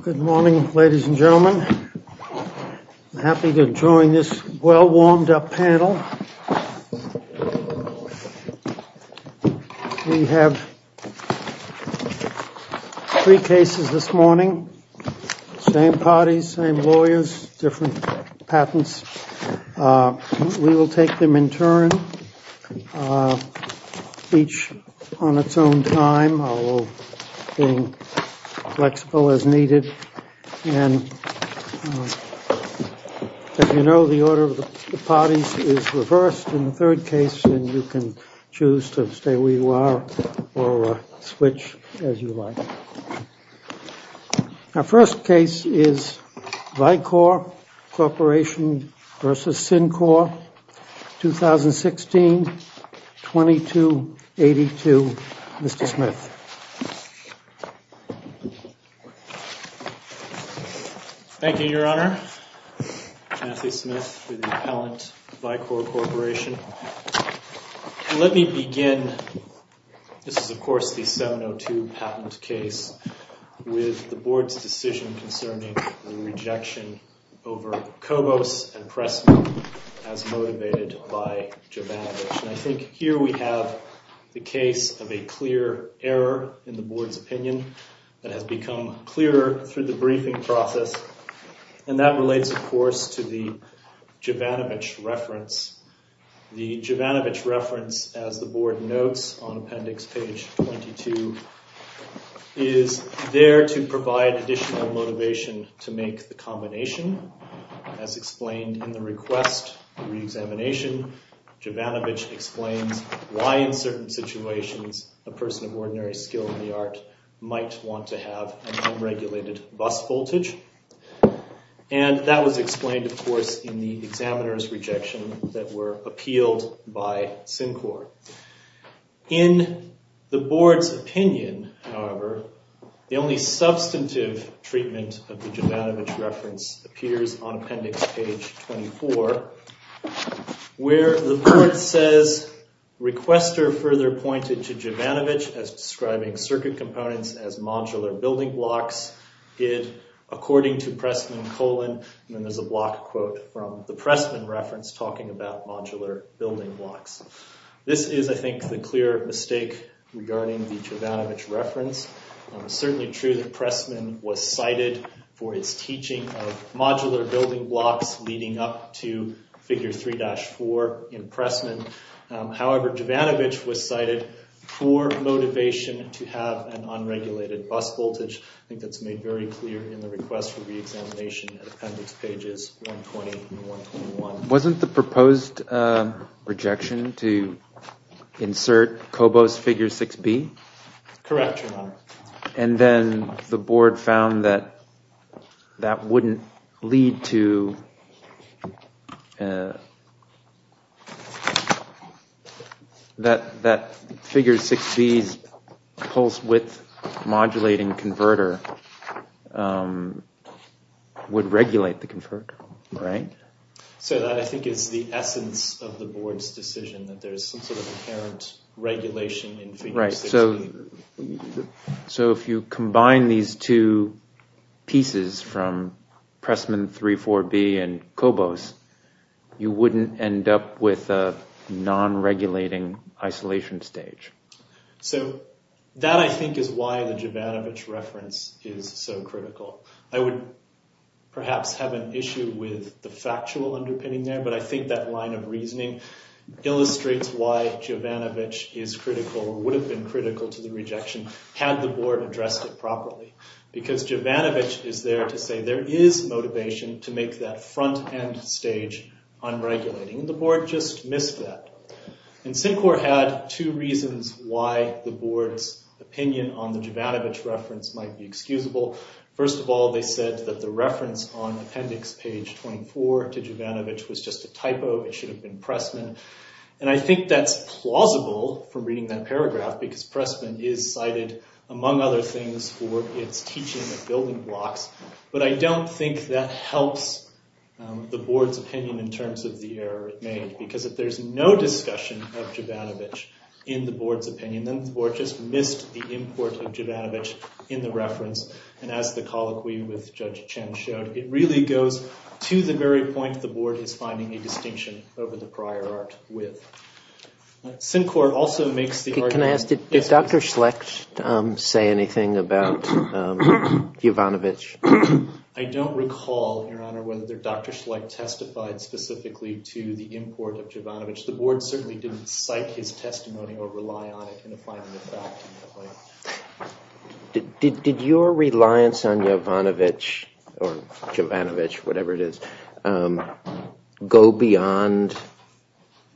Good morning, ladies and gentlemen. I'm happy to join this well warmed up panel. We have three cases this morning, same parties, same lawyers, different patents. We will take them in turn, each on its own time, although being flexible as needed. And as you know, the order of the parties is reversed in the third case, and you can choose to stay where you are or switch as you like. Our first case is Vicor Corporation v. SynQor, 2016-2282. Mr. Smith. Thank you, Your Honor. Matthew Smith with the appellant, Vicor Corporation. Let me begin, this is of course the 702 patent case, with the Board's decision concerning the rejection over Kobos and Pressman as motivated by Jovanovich. And I think here we have the case of a clear error in the Board's opinion that has become clearer through the briefing process. And that relates of course to the Jovanovich reference. The Jovanovich reference, as the Board notes on appendix page 22, is there to provide additional motivation to make the combination. As explained in the request reexamination, Jovanovich explains why in certain situations a person of ordinary skill in the art might want to have an unregulated bus voltage. And that was explained of course in the examiner's rejection that were appealed by SynQor. In the Board's opinion, however, the only substantive treatment of the Jovanovich reference appears on appendix page 24, where the Board says, Requester further pointed to Jovanovich as describing circuit components as modular building blocks. According to Pressman, and then there's a block quote from the Pressman reference talking about modular building blocks. This is I think the clear mistake regarding the Jovanovich reference. It's certainly true that Pressman was cited for his teaching of modular building blocks leading up to figure 3-4 in Pressman. However, Jovanovich was cited for motivation to have an unregulated bus voltage. I think that's made very clear in the request for reexamination at appendix pages 120 and 121. Wasn't the proposed rejection to insert Kobo's figure 6B? Correct, Your Honor. And then the Board found that that wouldn't lead to... that figure 6B's pulse width modulating converter would regulate the converter, right? So that I think is the essence of the Board's decision, that there's some sort of inherent regulation in figure 6B. So if you combine these two pieces from Pressman 3-4B and Kobo's, you wouldn't end up with a non-regulating isolation stage. So that I think is why the Jovanovich reference is so critical. I would perhaps have an issue with the factual underpinning there, but I think that line of reasoning illustrates why Jovanovich is critical or would have been critical to the rejection had the Board addressed it properly. Because Jovanovich is there to say there is motivation to make that front-end stage unregulating, and the Board just missed that. And Syncor had two reasons why the Board's opinion on the Jovanovich reference might be excusable. First of all, they said that the reference on appendix page 24 to Jovanovich was just a typo. It should have been Pressman. And I think that's plausible from reading that paragraph, because Pressman is cited, among other things, for its teaching of building blocks. But I don't think that helps the Board's opinion in terms of the error made. Because if there's no discussion of Jovanovich in the Board's opinion, then the Board just missed the import of Jovanovich in the reference. And as the colloquy with Judge Chen showed, it really goes to the very point the Board is finding a distinction over the prior art with. Syncor also makes the argument- Can I ask, did Dr. Schlecht say anything about Jovanovich? I don't recall, Your Honor, whether Dr. Schlecht testified specifically to the import of Jovanovich. The Board certainly didn't cite his testimony or rely on it in applying the fact in that way. Did your reliance on Jovanovich, or Jovanovich, whatever it is, go beyond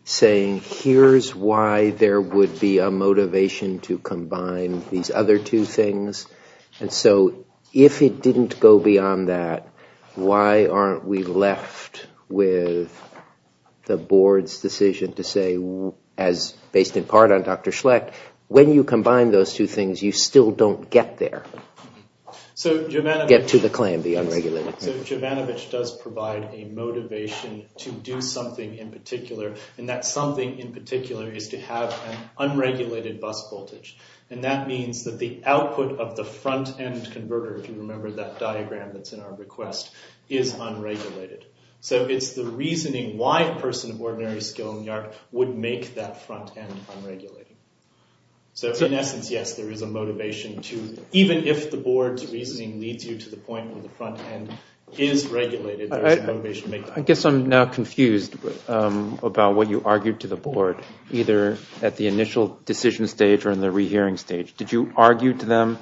saying, here's why there would be a motivation to combine these other two things? And so if it didn't go beyond that, why aren't we left with the Board's decision to say, based in part on Dr. Schlecht, when you combine those two things, you still don't get there. Get to the claim, the unregulated claim. So Jovanovich does provide a motivation to do something in particular, and that something in particular is to have an unregulated bus voltage. And that means that the output of the front-end converter, if you remember that diagram that's in our request, is unregulated. So it's the reasoning why a person of ordinary skill in the art would make that front-end unregulated. So in essence, yes, there is a motivation to, even if the Board's reasoning leads you to the point where the front-end is regulated, there is a motivation to make that. I guess I'm now confused about what you argued to the Board, either at the initial decision stage or in the rehearing stage. Did you argue to them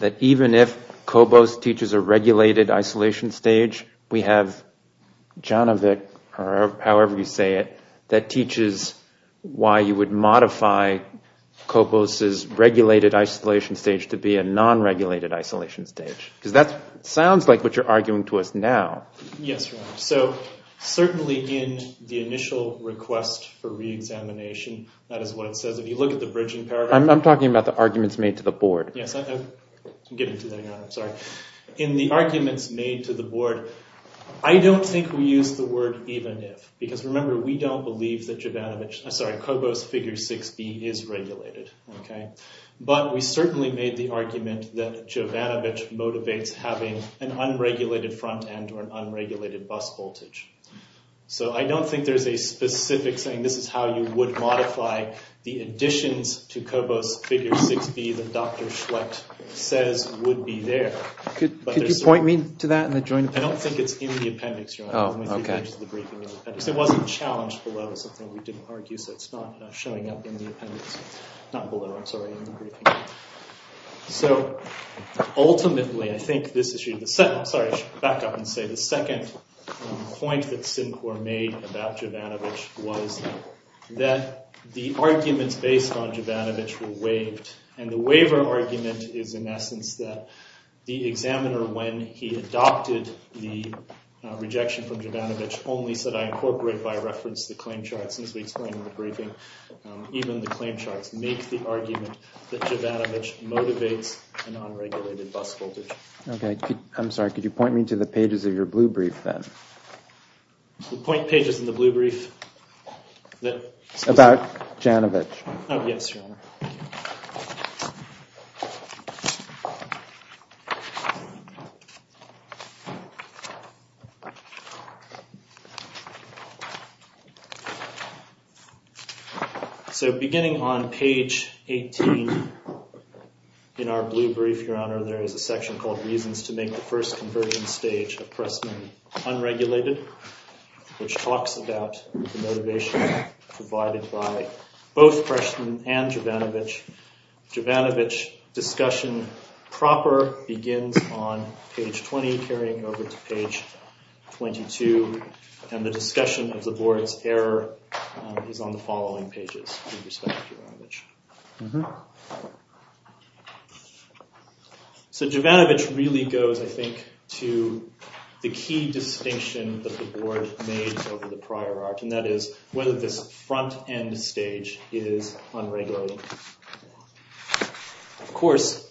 that even if Kobos teaches a regulated isolation stage, we have Jovanovich, or however you say it, that teaches why you would modify Kobos's regulated isolation stage to be a non-regulated isolation stage? Because that sounds like what you're arguing to us now. Yes, Your Honor. So certainly in the initial request for reexamination, that is what it says. If you look at the bridging paragraph— I'm talking about the arguments made to the Board. Yes, I'm getting to that, Your Honor. In the arguments made to the Board, I don't think we used the word even if, because remember, we don't believe that Kobos figure 6b is regulated. But we certainly made the argument that Jovanovich motivates having an unregulated front-end or an unregulated bus voltage. So I don't think there's a specific saying this is how you would modify the additions to Kobos figure 6b that Dr. Schlecht says would be there. Could you point me to that in the joint appendix? I don't think it's in the appendix, Your Honor. Oh, okay. It wasn't challenged below. It's something we didn't argue, so it's not showing up in the appendix— not below, I'm sorry, in the briefing. So ultimately, I think this issue— sorry, I should back up and say the second point that Sinclair made about Jovanovich was that the arguments based on Jovanovich were waived, and the waiver argument is in essence that the examiner, when he adopted the rejection from Jovanovich, only said, I incorporate by reference the claim charts. As we explained in the briefing, even the claim charts make the argument that Jovanovich motivates an unregulated bus voltage. Okay. I'm sorry. Could you point me to the pages of your blue brief then? The point pages in the blue brief that— About Jovanovich. Oh, yes, Your Honor. So beginning on page 18 in our blue brief, Your Honor, there is a section called Reasons to Make the First Conversion Stage of Pressman Unregulated, which talks about the motivation provided by both Pressman and Jovanovich. Jovanovich discussion proper begins on page 20, carrying over to page 22, and the discussion of the board's error is on the following pages with respect to Jovanovich. So Jovanovich really goes, I think, to the key distinction that the board made over the prior art, and that is whether this front-end stage is unregulated. Of course,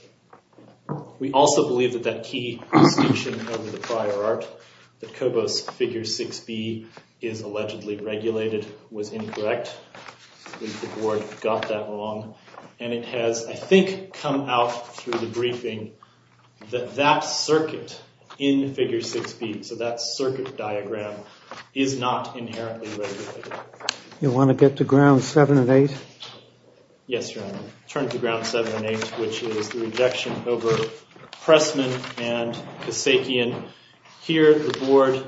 we also believe that that key distinction over the prior art, that Kobos figure 6b is allegedly regulated, was incorrect. I think the board got that wrong. And it has, I think, come out through the briefing that that circuit in figure 6b, so that circuit diagram, is not inherently regulated. You want to get to grounds 7 and 8? Yes, Your Honor. Turn to grounds 7 and 8, which is the rejection over Pressman and Kasakian. Here the board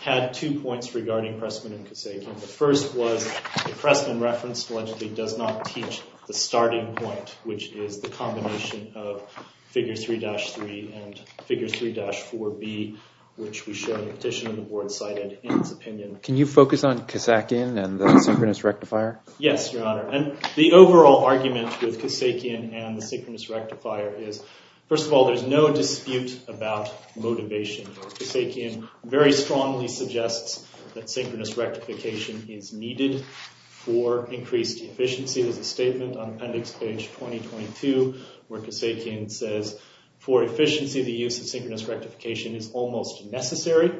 had two points regarding Pressman and Kasakian. The first was the Pressman reference allegedly does not teach the starting point, which is the combination of figure 3-3 and figure 3-4b, which we show in the petition the board cited in its opinion. Can you focus on Kasakian and the synchronous rectifier? Yes, Your Honor. And the overall argument with Kasakian and the synchronous rectifier is, first of all, there's no dispute about motivation. Kasakian very strongly suggests that synchronous rectification is needed for increased efficiency. There's a statement on appendix page 2022 where Kasakian says, for efficiency the use of synchronous rectification is almost necessary.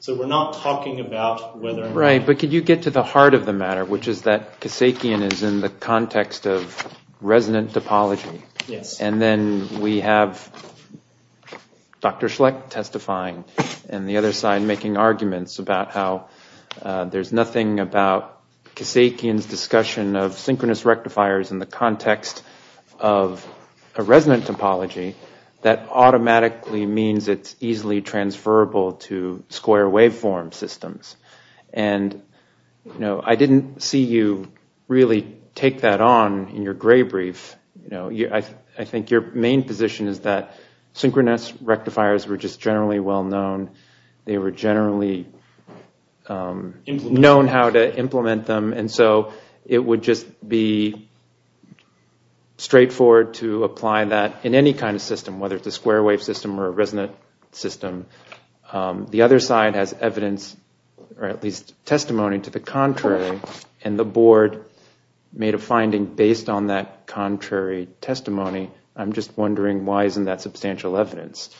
So we're not talking about whether or not— Right, but could you get to the heart of the matter, which is that Kasakian is in the context of resident topology. Yes. And then we have Dr. Schlecht testifying, and the other side making arguments about how there's nothing about Kasakian's discussion of synchronous rectifiers in the context of a resident topology that automatically means it's easily transferable to square waveform systems. And I didn't see you really take that on in your gray brief. I think your main position is that synchronous rectifiers were just generally well-known. They were generally known how to implement them, and so it would just be straightforward to apply that in any kind of system, whether it's a square wave system or a resident system. The other side has evidence, or at least testimony to the contrary, and the board made a finding based on that contrary testimony. I'm just wondering why isn't that substantial evidence?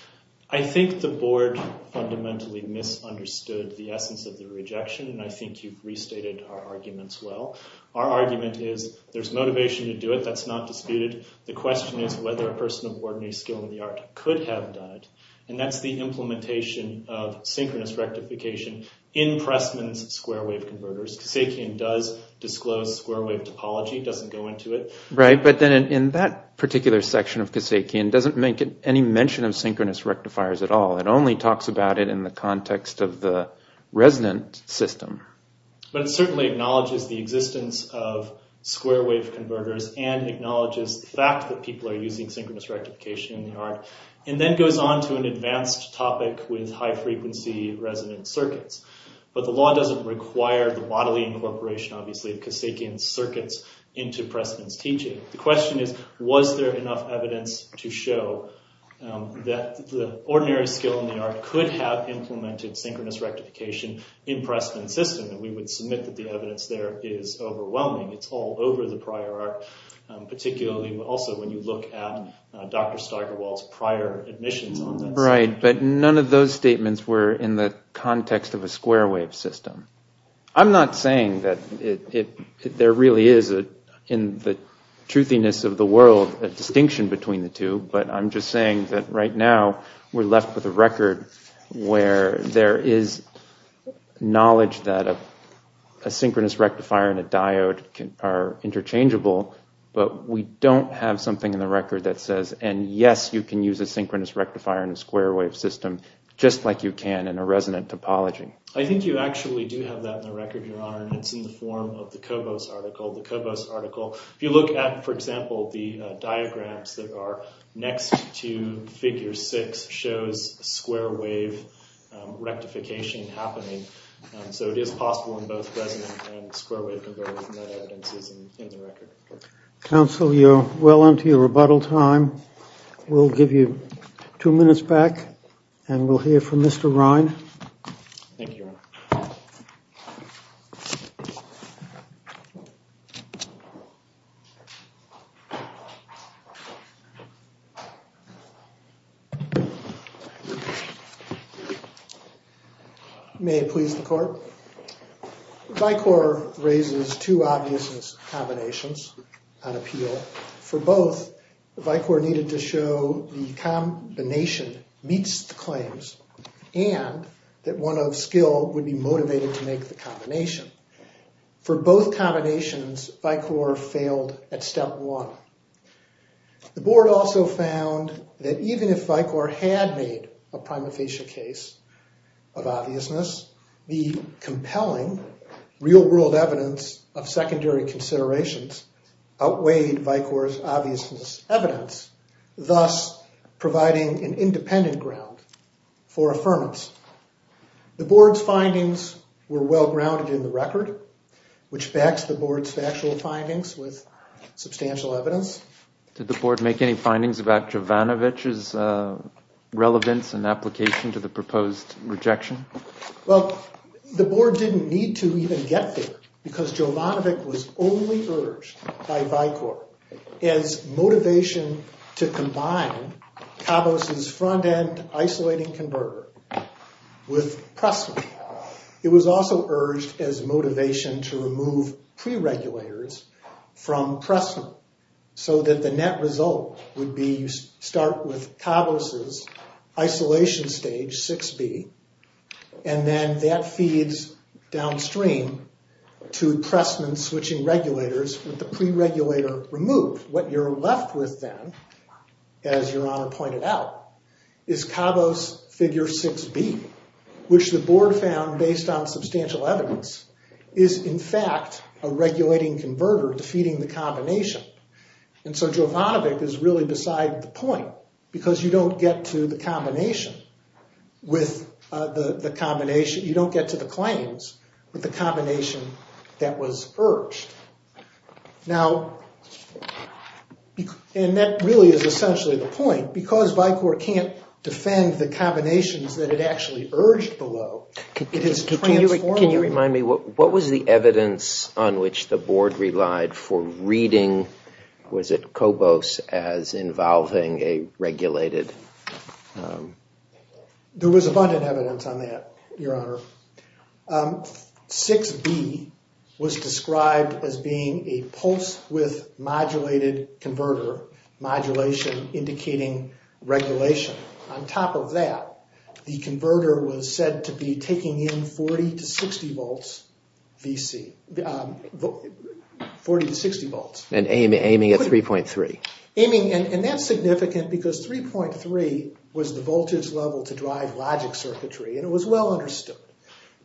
I think the board fundamentally misunderstood the essence of the rejection, and I think you've restated our arguments well. Our argument is there's motivation to do it. That's not disputed. The question is whether a person of ordinary skill in the art could have done it, and that's the implementation of synchronous rectification in Pressman's square wave converters. Kasakian does disclose square wave topology. It doesn't go into it. Right, but then in that particular section of Kasakian, it doesn't make any mention of synchronous rectifiers at all. It only talks about it in the context of the resident system. But it certainly acknowledges the existence of square wave converters and acknowledges the fact that people are using synchronous rectification in the art, and then goes on to an advanced topic with high-frequency resident circuits. But the law doesn't require the bodily incorporation, obviously, of Kasakian's circuits into Pressman's teaching. The question is was there enough evidence to show that the ordinary skill in the art could have implemented synchronous rectification in Pressman's system, and we would submit that the evidence there is overwhelming. It's all over the prior art, particularly also when you look at Dr. Steigerwald's prior admissions on this. Right, but none of those statements were in the context of a square wave system. I'm not saying that there really is, in the truthiness of the world, a distinction between the two, but I'm just saying that right now we're left with a record where there is knowledge that a synchronous rectifier and a diode are interchangeable, but we don't have something in the record that says, and yes, you can use a synchronous rectifier in a square wave system, just like you can in a resident topology. I think you actually do have that in the record, Your Honor, and it's in the form of the Cobos article. The Cobos article, if you look at, for example, the diagrams that are next to Figure 6 shows square wave rectification happening. So it is possible in both resident and square wave converted, and that evidence is in the record. Counsel, you're well into your rebuttal time. We'll give you two minutes back, and we'll hear from Mr. Rhine. Thank you, Your Honor. May it please the Court? Vicor raises two obviousness combinations on appeal. For both, Vicor needed to show the combination meets the claims and that one of skill would be motivated to make the combination. For both combinations, Vicor failed at step one. The Board also found that even if Vicor had made a prima facie case of obviousness, the compelling real-world evidence of secondary considerations outweighed Vicor's obviousness evidence, thus providing an independent ground for affirmance. The Board's findings were well-grounded in the record, which backs the Board's factual findings with substantial evidence. Did the Board make any findings about Jovanovich's relevance and application to the proposed rejection? Well, the Board didn't need to even get there because Jovanovich was only urged by Vicor as motivation to combine Cabos's front-end isolating converter with Pressman. It was also urged as motivation to remove pre-regulators from Pressman so that the net result would be you start with Cabos's isolation stage 6B and then that feeds downstream to Pressman switching regulators with the pre-regulator removed. What you're left with then, as Your Honor pointed out, is Cabos figure 6B, which the Board found, based on substantial evidence, is in fact a regulating converter defeating the combination. And so Jovanovich is really beside the point because you don't get to the combination with the combination, you don't get to the claims with the combination that was urged. Now, and that really is essentially the point, because Vicor can't defend the combinations that it actually urged below. Can you remind me, what was the evidence on which the Board relied for reading, was it Cabos as involving a regulated? There was abundant evidence on that, Your Honor. 6B was described as being a pulse-width modulated converter, modulation indicating regulation. On top of that, the converter was said to be taking in 40 to 60 volts VC, 40 to 60 volts. And aiming at 3.3. Aiming, and that's significant because 3.3 was the voltage level to drive logic circuitry, and it was well understood,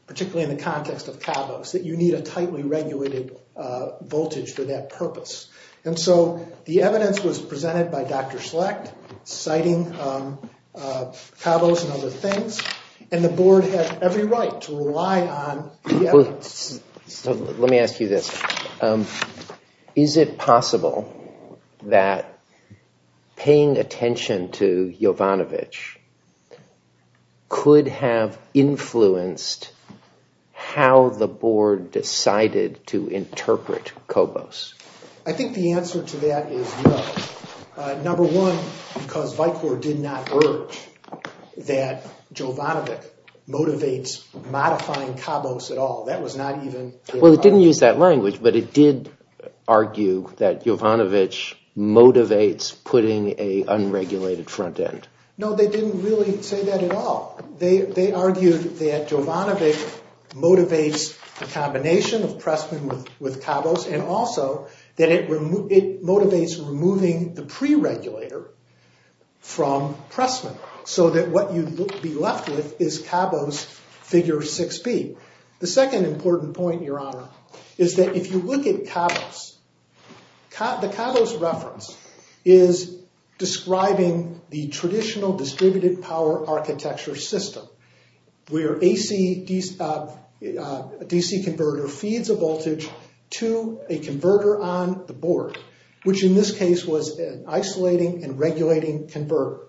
particularly in the context of Cabos, that you need a tightly regulated voltage for that purpose. And so the evidence was presented by Dr. Select, citing Cabos and other things, and the Board had every right to rely on the evidence. Let me ask you this. Is it possible that paying attention to Jovanovich could have influenced how the Board decided to interpret Cabos? I think the answer to that is no. Number one, because Vicor did not urge that Jovanovich motivates modifying Cabos at all. Well, it didn't use that language, but it did argue that Jovanovich motivates putting an unregulated front end. No, they didn't really say that at all. They argued that Jovanovich motivates the combination of Pressman with Cabos, and also that it motivates removing the pre-regulator from Pressman, so that what you'd be left with is Cabos figure 6B. The second important point, Your Honor, is that if you look at Cabos, the Cabos reference is describing the traditional distributed power architecture system, where a DC converter feeds a voltage to a converter on the Board, which in this case was an isolating and regulating converter.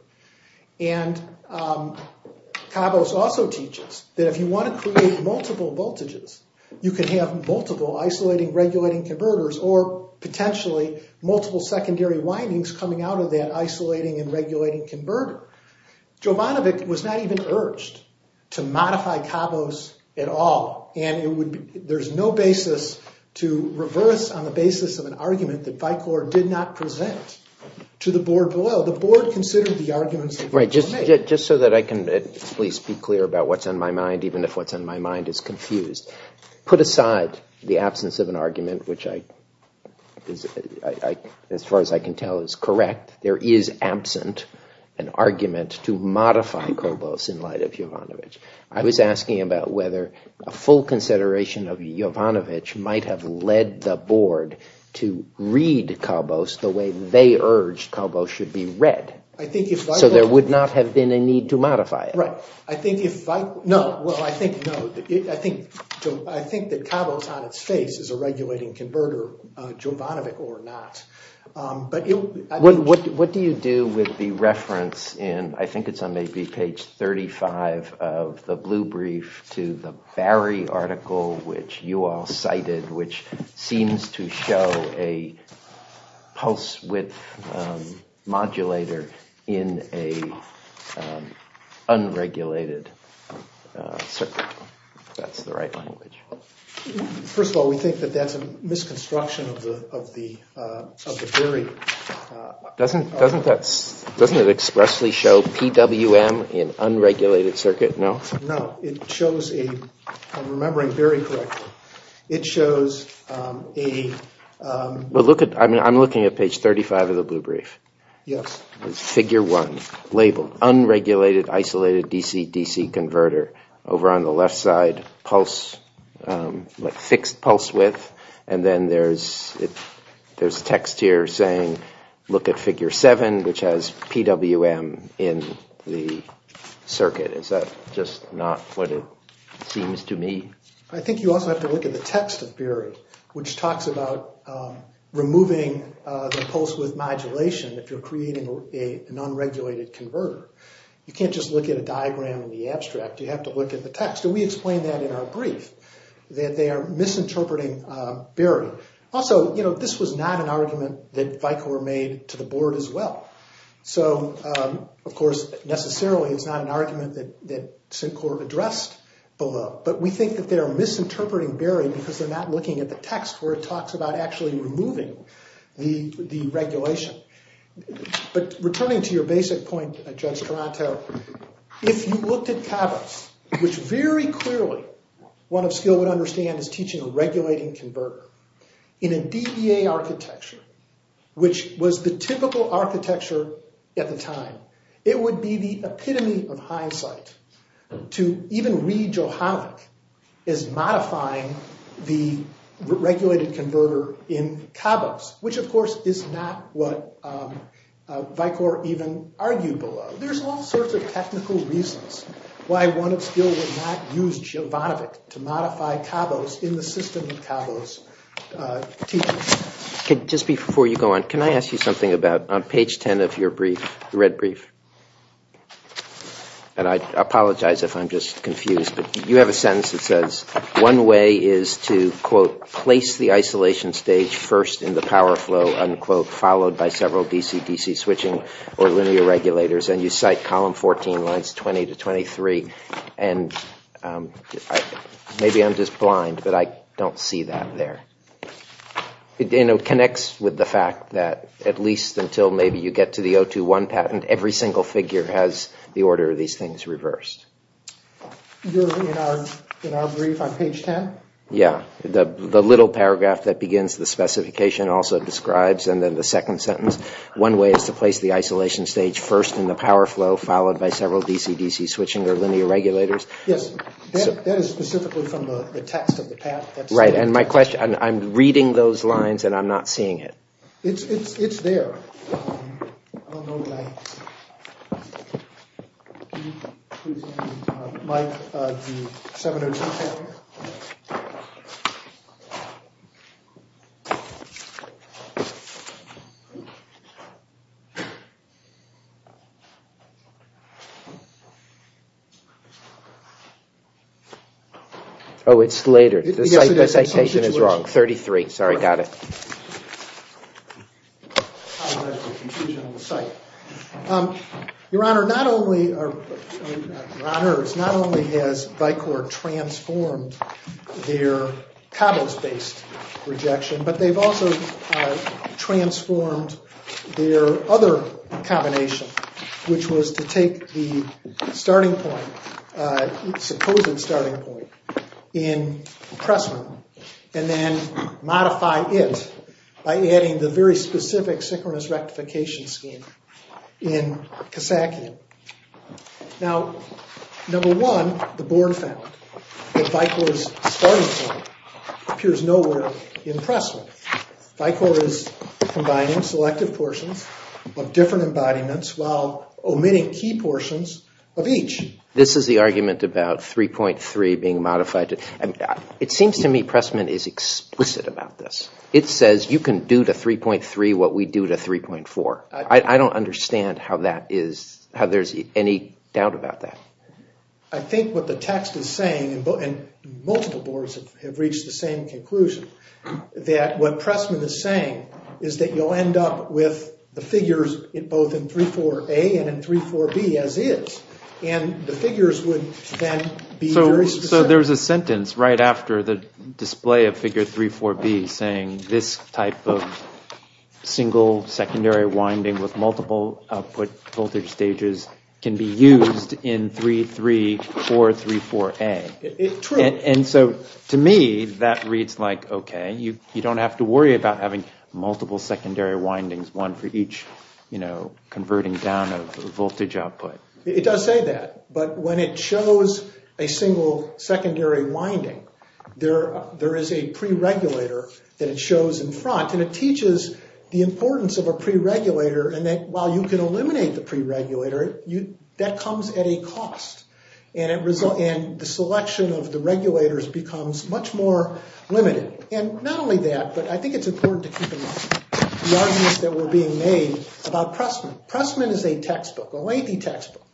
And Cabos also teaches that if you want to create multiple voltages, you can have multiple isolating, regulating converters, or potentially multiple secondary windings coming out of that isolating and regulating converter. Jovanovich was not even urged to modify Cabos at all, and there's no basis to reverse on the basis of an argument that Vicor did not present to the Board below. Right, just so that I can at least be clear about what's on my mind, even if what's on my mind is confused. Put aside the absence of an argument, which as far as I can tell is correct, there is absent an argument to modify Cabos in light of Jovanovich. I was asking about whether a full consideration of Jovanovich might have led the Board to read Cabos the way they urged Cabos should be read. So there would not have been a need to modify it. Right. I think that Cabos on its face is a regulating converter, Jovanovich or not. What do you do with the reference in, I think it's on maybe page 35 of the Blue Brief, to the Barry article which you all cited, which seems to show a pulse width modulator in an unregulated circuit. That's the right language. First of all, we think that that's a misconstruction of the theory. Doesn't it expressly show PWM in unregulated circuit? No? It shows a, if I'm remembering very correctly, it shows a... I'm looking at page 35 of the Blue Brief. Yes. It's figure one, labeled unregulated isolated DC-DC converter. Over on the left side, pulse, fixed pulse width, and then there's text here saying, look at figure seven, which has PWM in the circuit. Is that just not what it seems to me? I think you also have to look at the text of Barry, which talks about removing the pulse width modulation if you're creating an unregulated converter. You can't just look at a diagram in the abstract. You have to look at the text, and we explain that in our brief, that they are misinterpreting Barry. Also, you know, this was not an argument that Vicor made to the board as well. So, of course, necessarily it's not an argument that Sincor addressed below, but we think that they are misinterpreting Barry because they're not looking at the text where it talks about actually removing the regulation. But returning to your basic point, Judge Taranto, if you looked at Cabot, which very clearly one of skill would understand is teaching a regulating converter, in a DEA architecture, which was the typical architecture at the time, it would be the epitome of hindsight to even read Johalik as modifying the regulated converter in Cabot, which, of course, is not what Vicor even argued below. So there's all sorts of technical reasons why one of skill would not use Jivanovich to modify Cabot's in the system of Cabot's teaching. Just before you go on, can I ask you something about, on page 10 of your brief, the red brief, and I apologize if I'm just confused, but you have a sentence that says, one way is to, quote, place the isolation stage first in the power flow, unquote, followed by several DC-DC switching or linear regulators, and you cite column 14, lines 20 to 23. And maybe I'm just blind, but I don't see that there. It connects with the fact that at least until maybe you get to the 021 patent, every single figure has the order of these things reversed. In our brief on page 10? Yeah. The little paragraph that begins the specification also describes, and then the second sentence, one way is to place the isolation stage first in the power flow, followed by several DC-DC switching or linear regulators. Yes. That is specifically from the text of the patent. Right, and my question, I'm reading those lines and I'm not seeing it. It's there. I don't know why. Mike, the 702 patent. Oh, it's later. The citation is wrong. 33. Sorry, got it. Your Honor, not only has Vicor transformed their cobbles-based rejection, but they've also transformed their other combination, which was to take the starting point, the supposed starting point, in Pressman, and then modify it by adding the very specific synchronous rectification scheme in Kasakian. Now, number one, the board found that Vicor's starting point appears nowhere in Pressman. Vicor is combining selective portions of different embodiments while omitting key portions of each. This is the argument about 3.3 being modified. It seems to me Pressman is explicit about this. It says you can do to 3.3 what we do to 3.4. I don't understand how there's any doubt about that. I think what the text is saying, and multiple boards have reached the same conclusion, that what Pressman is saying is that you'll end up with the figures both in 3.4a and in 3.4b as is, and the figures would then be very specific. So there's a sentence right after the display of figure 3.4b saying this type of single secondary winding with multiple output voltage stages can be used in 3.3 or 3.4a. True. And so, to me, that reads like, okay, you don't have to worry about having multiple secondary windings, one for each converting down of voltage output. It does say that, but when it shows a single secondary winding, there is a pre-regulator that it shows in front, and it teaches the importance of a pre-regulator and that while you can eliminate the pre-regulator, that comes at a cost, and the selection of the regulators becomes much more limited. And not only that, but I think it's important to keep in mind the arguments that were being made about Pressman. Pressman is a textbook, a lengthy textbook,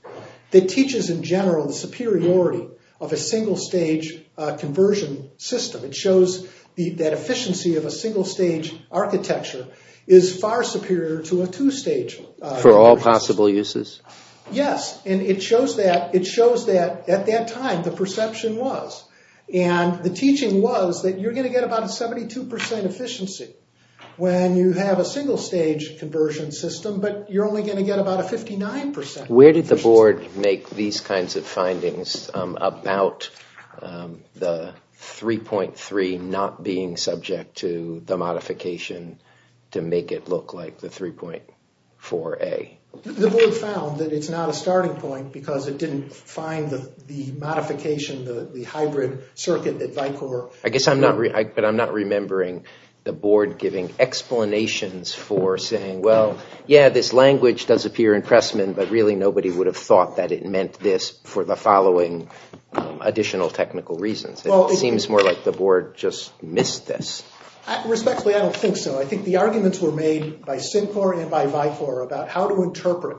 that teaches in general the superiority of a single-stage conversion system. It shows that efficiency of a single-stage architecture is far superior to a two-stage. For all possible uses. Yes, and it shows that at that time the perception was, and the teaching was that you're going to get about a 72% efficiency when you have a single-stage conversion system, but you're only going to get about a 59% efficiency. Where did the board make these kinds of findings about the 3.3 not being subject to the modification to make it look like the 3.4a? The board found that it's not a starting point because it didn't find the modification, the hybrid circuit at Vicor. I guess I'm not, but I'm not remembering the board giving explanations for saying, well, yeah, this language does appear in Pressman, but really nobody would have thought that it meant this for the following additional technical reasons. It seems more like the board just missed this. Respectfully, I don't think so. I think the arguments were made by Syncor and by Vicor about how to interpret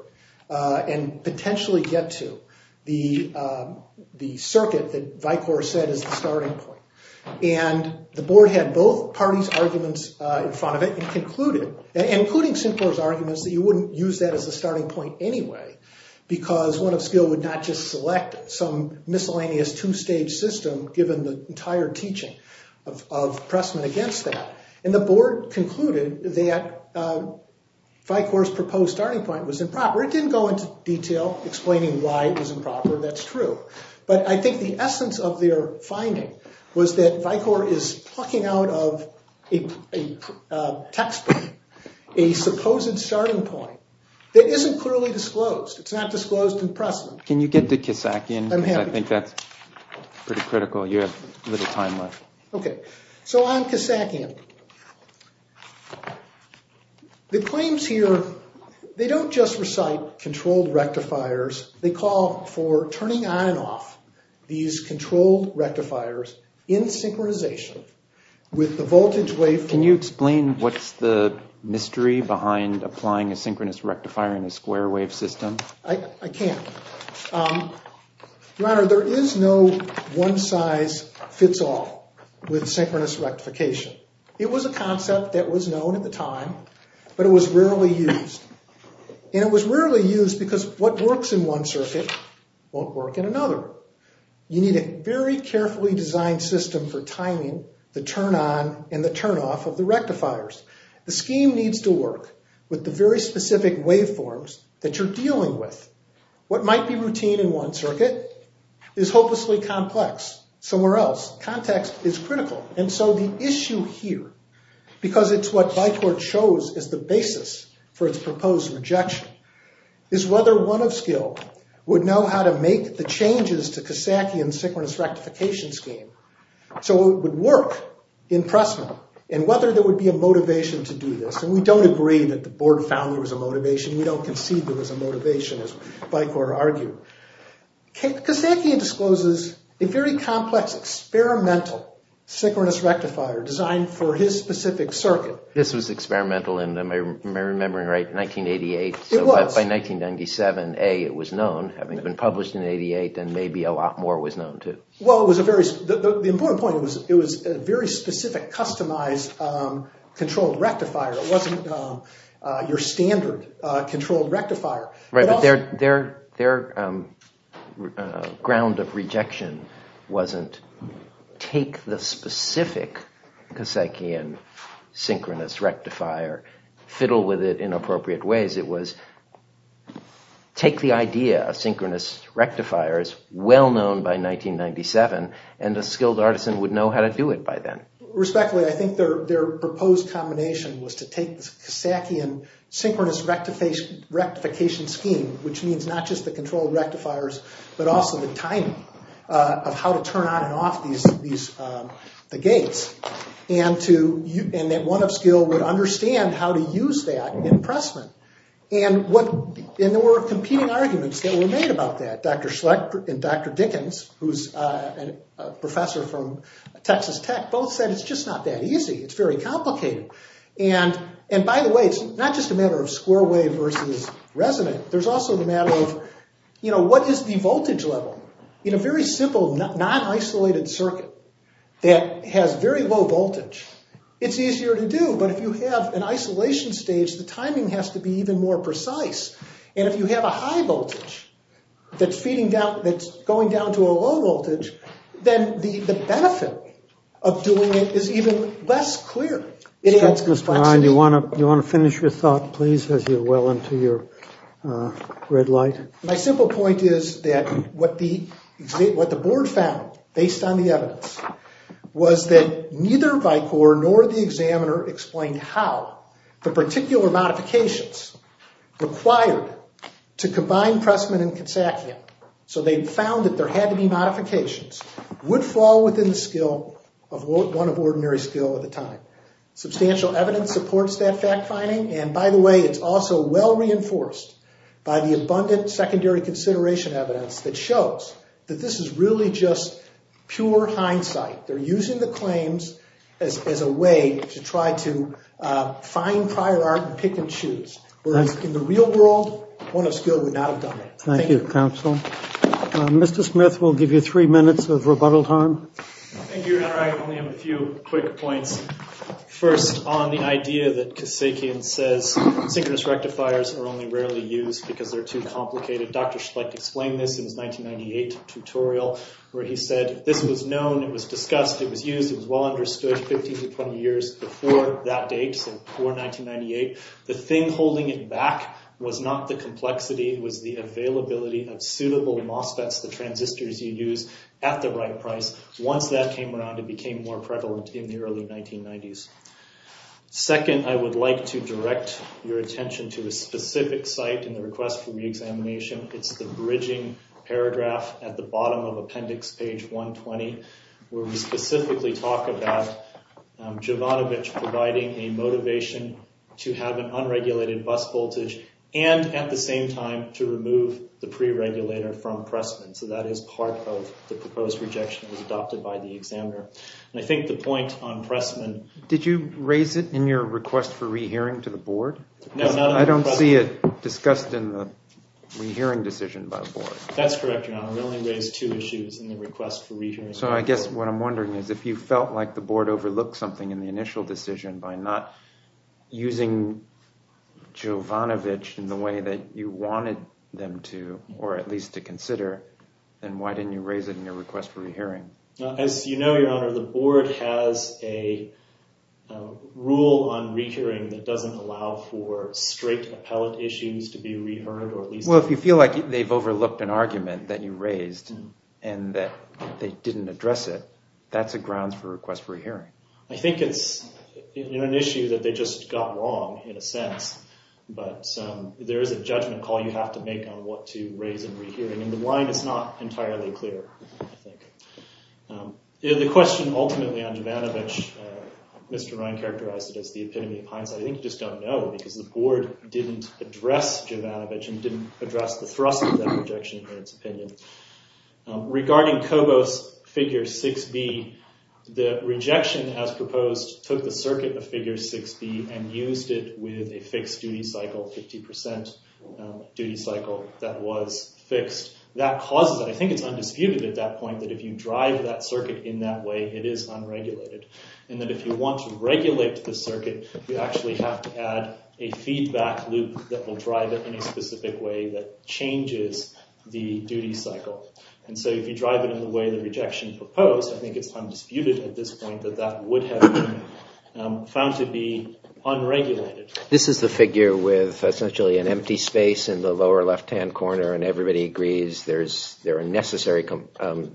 and potentially get to the circuit that Vicor said is the starting point. And the board had both parties' arguments in front of it and concluded, including Syncor's arguments, that you wouldn't use that as a starting point anyway, because one of skill would not just select some miscellaneous two-stage system, given the entire teaching of Pressman against that. And the board concluded that Vicor's proposed starting point was improper. It didn't go into detail explaining why it was improper. That's true. But I think the essence of their finding was that Vicor is plucking out of a textbook a supposed starting point that isn't clearly disclosed. It's not disclosed in Pressman. Can you get to Kisakian? I'm happy to. I think that's pretty critical. You have a little time left. Okay. So on Kisakian. The claims here, they don't just recite controlled rectifiers. They call for turning on and off these controlled rectifiers in synchronization with the voltage wave. Can you explain what's the mystery behind applying a synchronous rectifier in a square wave system? I can't. Your Honor, there is no one-size-fits-all with synchronous rectification. It was a concept that was known at the time, but it was rarely used. And it was rarely used because what works in one circuit won't work in another. You need a very carefully designed system for timing the turn on and the turn off of the rectifiers. The scheme needs to work with the very specific waveforms that you're dealing with. What might be routine in one circuit is hopelessly complex somewhere else. Context is critical. And so the issue here, because it's what Bicor chose as the basis for its proposed rejection, is whether one of skill would know how to make the changes to Kisakian's synchronous rectification scheme so it would work in Pressman and whether there would be a motivation to do this. And we don't agree that the Board found there was a motivation. We don't concede there was a motivation, as Bicor argued. Kisakian discloses a very complex experimental synchronous rectifier designed for his specific circuit. This was experimental in, am I remembering right, 1988? It was. So by 1997A it was known, having been published in 88, and maybe a lot more was known too. Well, the important point was it was a very specific, customized, controlled rectifier. It wasn't your standard controlled rectifier. Right, but their ground of rejection wasn't take the specific Kisakian synchronous rectifier, fiddle with it in appropriate ways. It was take the idea of synchronous rectifiers, well-known by 1997, and a skilled artisan would know how to do it by then. Respectfully, I think their proposed combination was to take the Kisakian synchronous rectification scheme, which means not just the controlled rectifiers, but also the timing of how to turn on and off the gates, and that one of skill would understand how to use that in pressmen. And there were competing arguments that were made about that. Dr. Schlecht and Dr. Dickens, who's a professor from Texas Tech, both said it's just not that easy. It's very complicated. And, by the way, it's not just a matter of square wave versus resonant. There's also the matter of, you know, what is the voltage level? In a very simple non-isolated circuit that has very low voltage, it's easier to do, but if you have an isolation stage, the timing has to be even more precise. And if you have a high voltage that's going down to a low voltage, then the benefit of doing it is even less clear. It adds complexity. Do you want to finish your thought, please, as you're well into your red light? My simple point is that what the board found, based on the evidence, was that neither Vicor nor the examiner explained how the particular modifications required to combine pressmen and Kisakian, so they found that there had to be modifications, would fall within the skill of one of ordinary skill at the time. Substantial evidence supports that fact finding, and, by the way, it's also well reinforced by the abundant secondary consideration evidence that shows that this is really just pure hindsight. They're using the claims as a way to try to find prior art and pick and choose, whereas in the real world, one of skill would not have done that. Thank you, counsel. Mr. Smith will give you three minutes of rebuttal time. Thank you, Your Honor. I only have a few quick points. First, on the idea that Kisakian says synchronous rectifiers are only rarely used because they're too complicated. Dr. Schlecht explained this in his 1998 tutorial where he said, this was known, it was discussed, it was used, it was well understood 15 to 20 years before that date, so before 1998. The thing holding it back was not the complexity, it was the availability of suitable MOSFETs, the transistors you use, at the right price. Once that came around, it became more prevalent in the early 1990s. Second, I would like to direct your attention to a specific site in the request for reexamination. It's the bridging paragraph at the bottom of appendix page 120 where we specifically talk about Jovanovich providing a motivation to have an unregulated bus voltage and, at the same time, to remove the pre-regulator from Pressman, so that is part of the proposed rejection that was adopted by the examiner. I think the point on Pressman— Did you raise it in your request for rehearing to the board? No. I don't see it discussed in the rehearing decision by the board. That's correct, Your Honor. We only raised two issues in the request for rehearing. So I guess what I'm wondering is if you felt like the board overlooked something in the initial decision by not using Jovanovich in the way that you wanted them to, or at least to consider, then why didn't you raise it in your request for rehearing? As you know, Your Honor, the board has a rule on rehearing that doesn't allow for straight appellate issues to be reheard or at least— Well, if you feel like they've overlooked an argument that you raised and that they didn't address it, that's a grounds for request for rehearing. I think it's an issue that they just got wrong in a sense, but there is a judgment call you have to make on what to raise in rehearing, and the line is not entirely clear, I think. The question ultimately on Jovanovich, Mr. Ryan characterized it as the epitome of hindsight. I think you just don't know because the board didn't address Jovanovich and didn't address the thrust of that rejection in its opinion. Regarding Kobos figure 6B, the rejection as proposed took the circuit of figure 6B and used it with a fixed duty cycle, 50% duty cycle that was fixed. That causes, I think it's undisputed at that point, that if you drive that circuit in that way, it is unregulated, and that if you want to regulate the circuit, you actually have to add a feedback loop that will drive it in a specific way that changes the duty cycle. And so if you drive it in the way the rejection proposed, I think it's undisputed at this point that that would have been found to be unregulated. This is the figure with essentially an empty space in the lower left-hand corner and everybody agrees there are necessary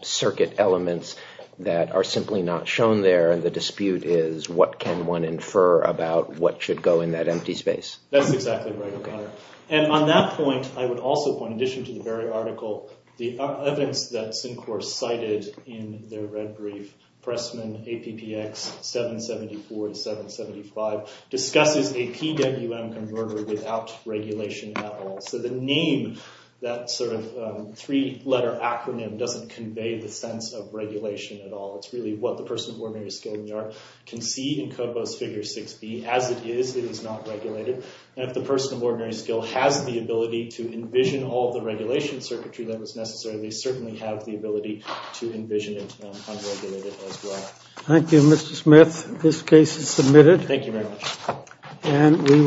circuit elements that are simply not shown there, and the dispute is what can one infer about what should go in that empty space. That's exactly right, O'Connor. And on that point, I would also point, in addition to the very article, the evidence that Syncor cited in their red brief, Pressman APPX 774 to 775, discusses a PWM converter without regulation at all. So the name, that sort of three-letter acronym, doesn't convey the sense of regulation at all. It's really what the person of ordinary skill in the art can see in COBOS Figure 6B. As it is, it is not regulated. And if the person of ordinary skill has the ability to envision all the regulation circuitry that was necessary, they certainly have the ability to envision it unregulated as well. Thank you, Mr. Smith. This case is submitted. Thank you very much.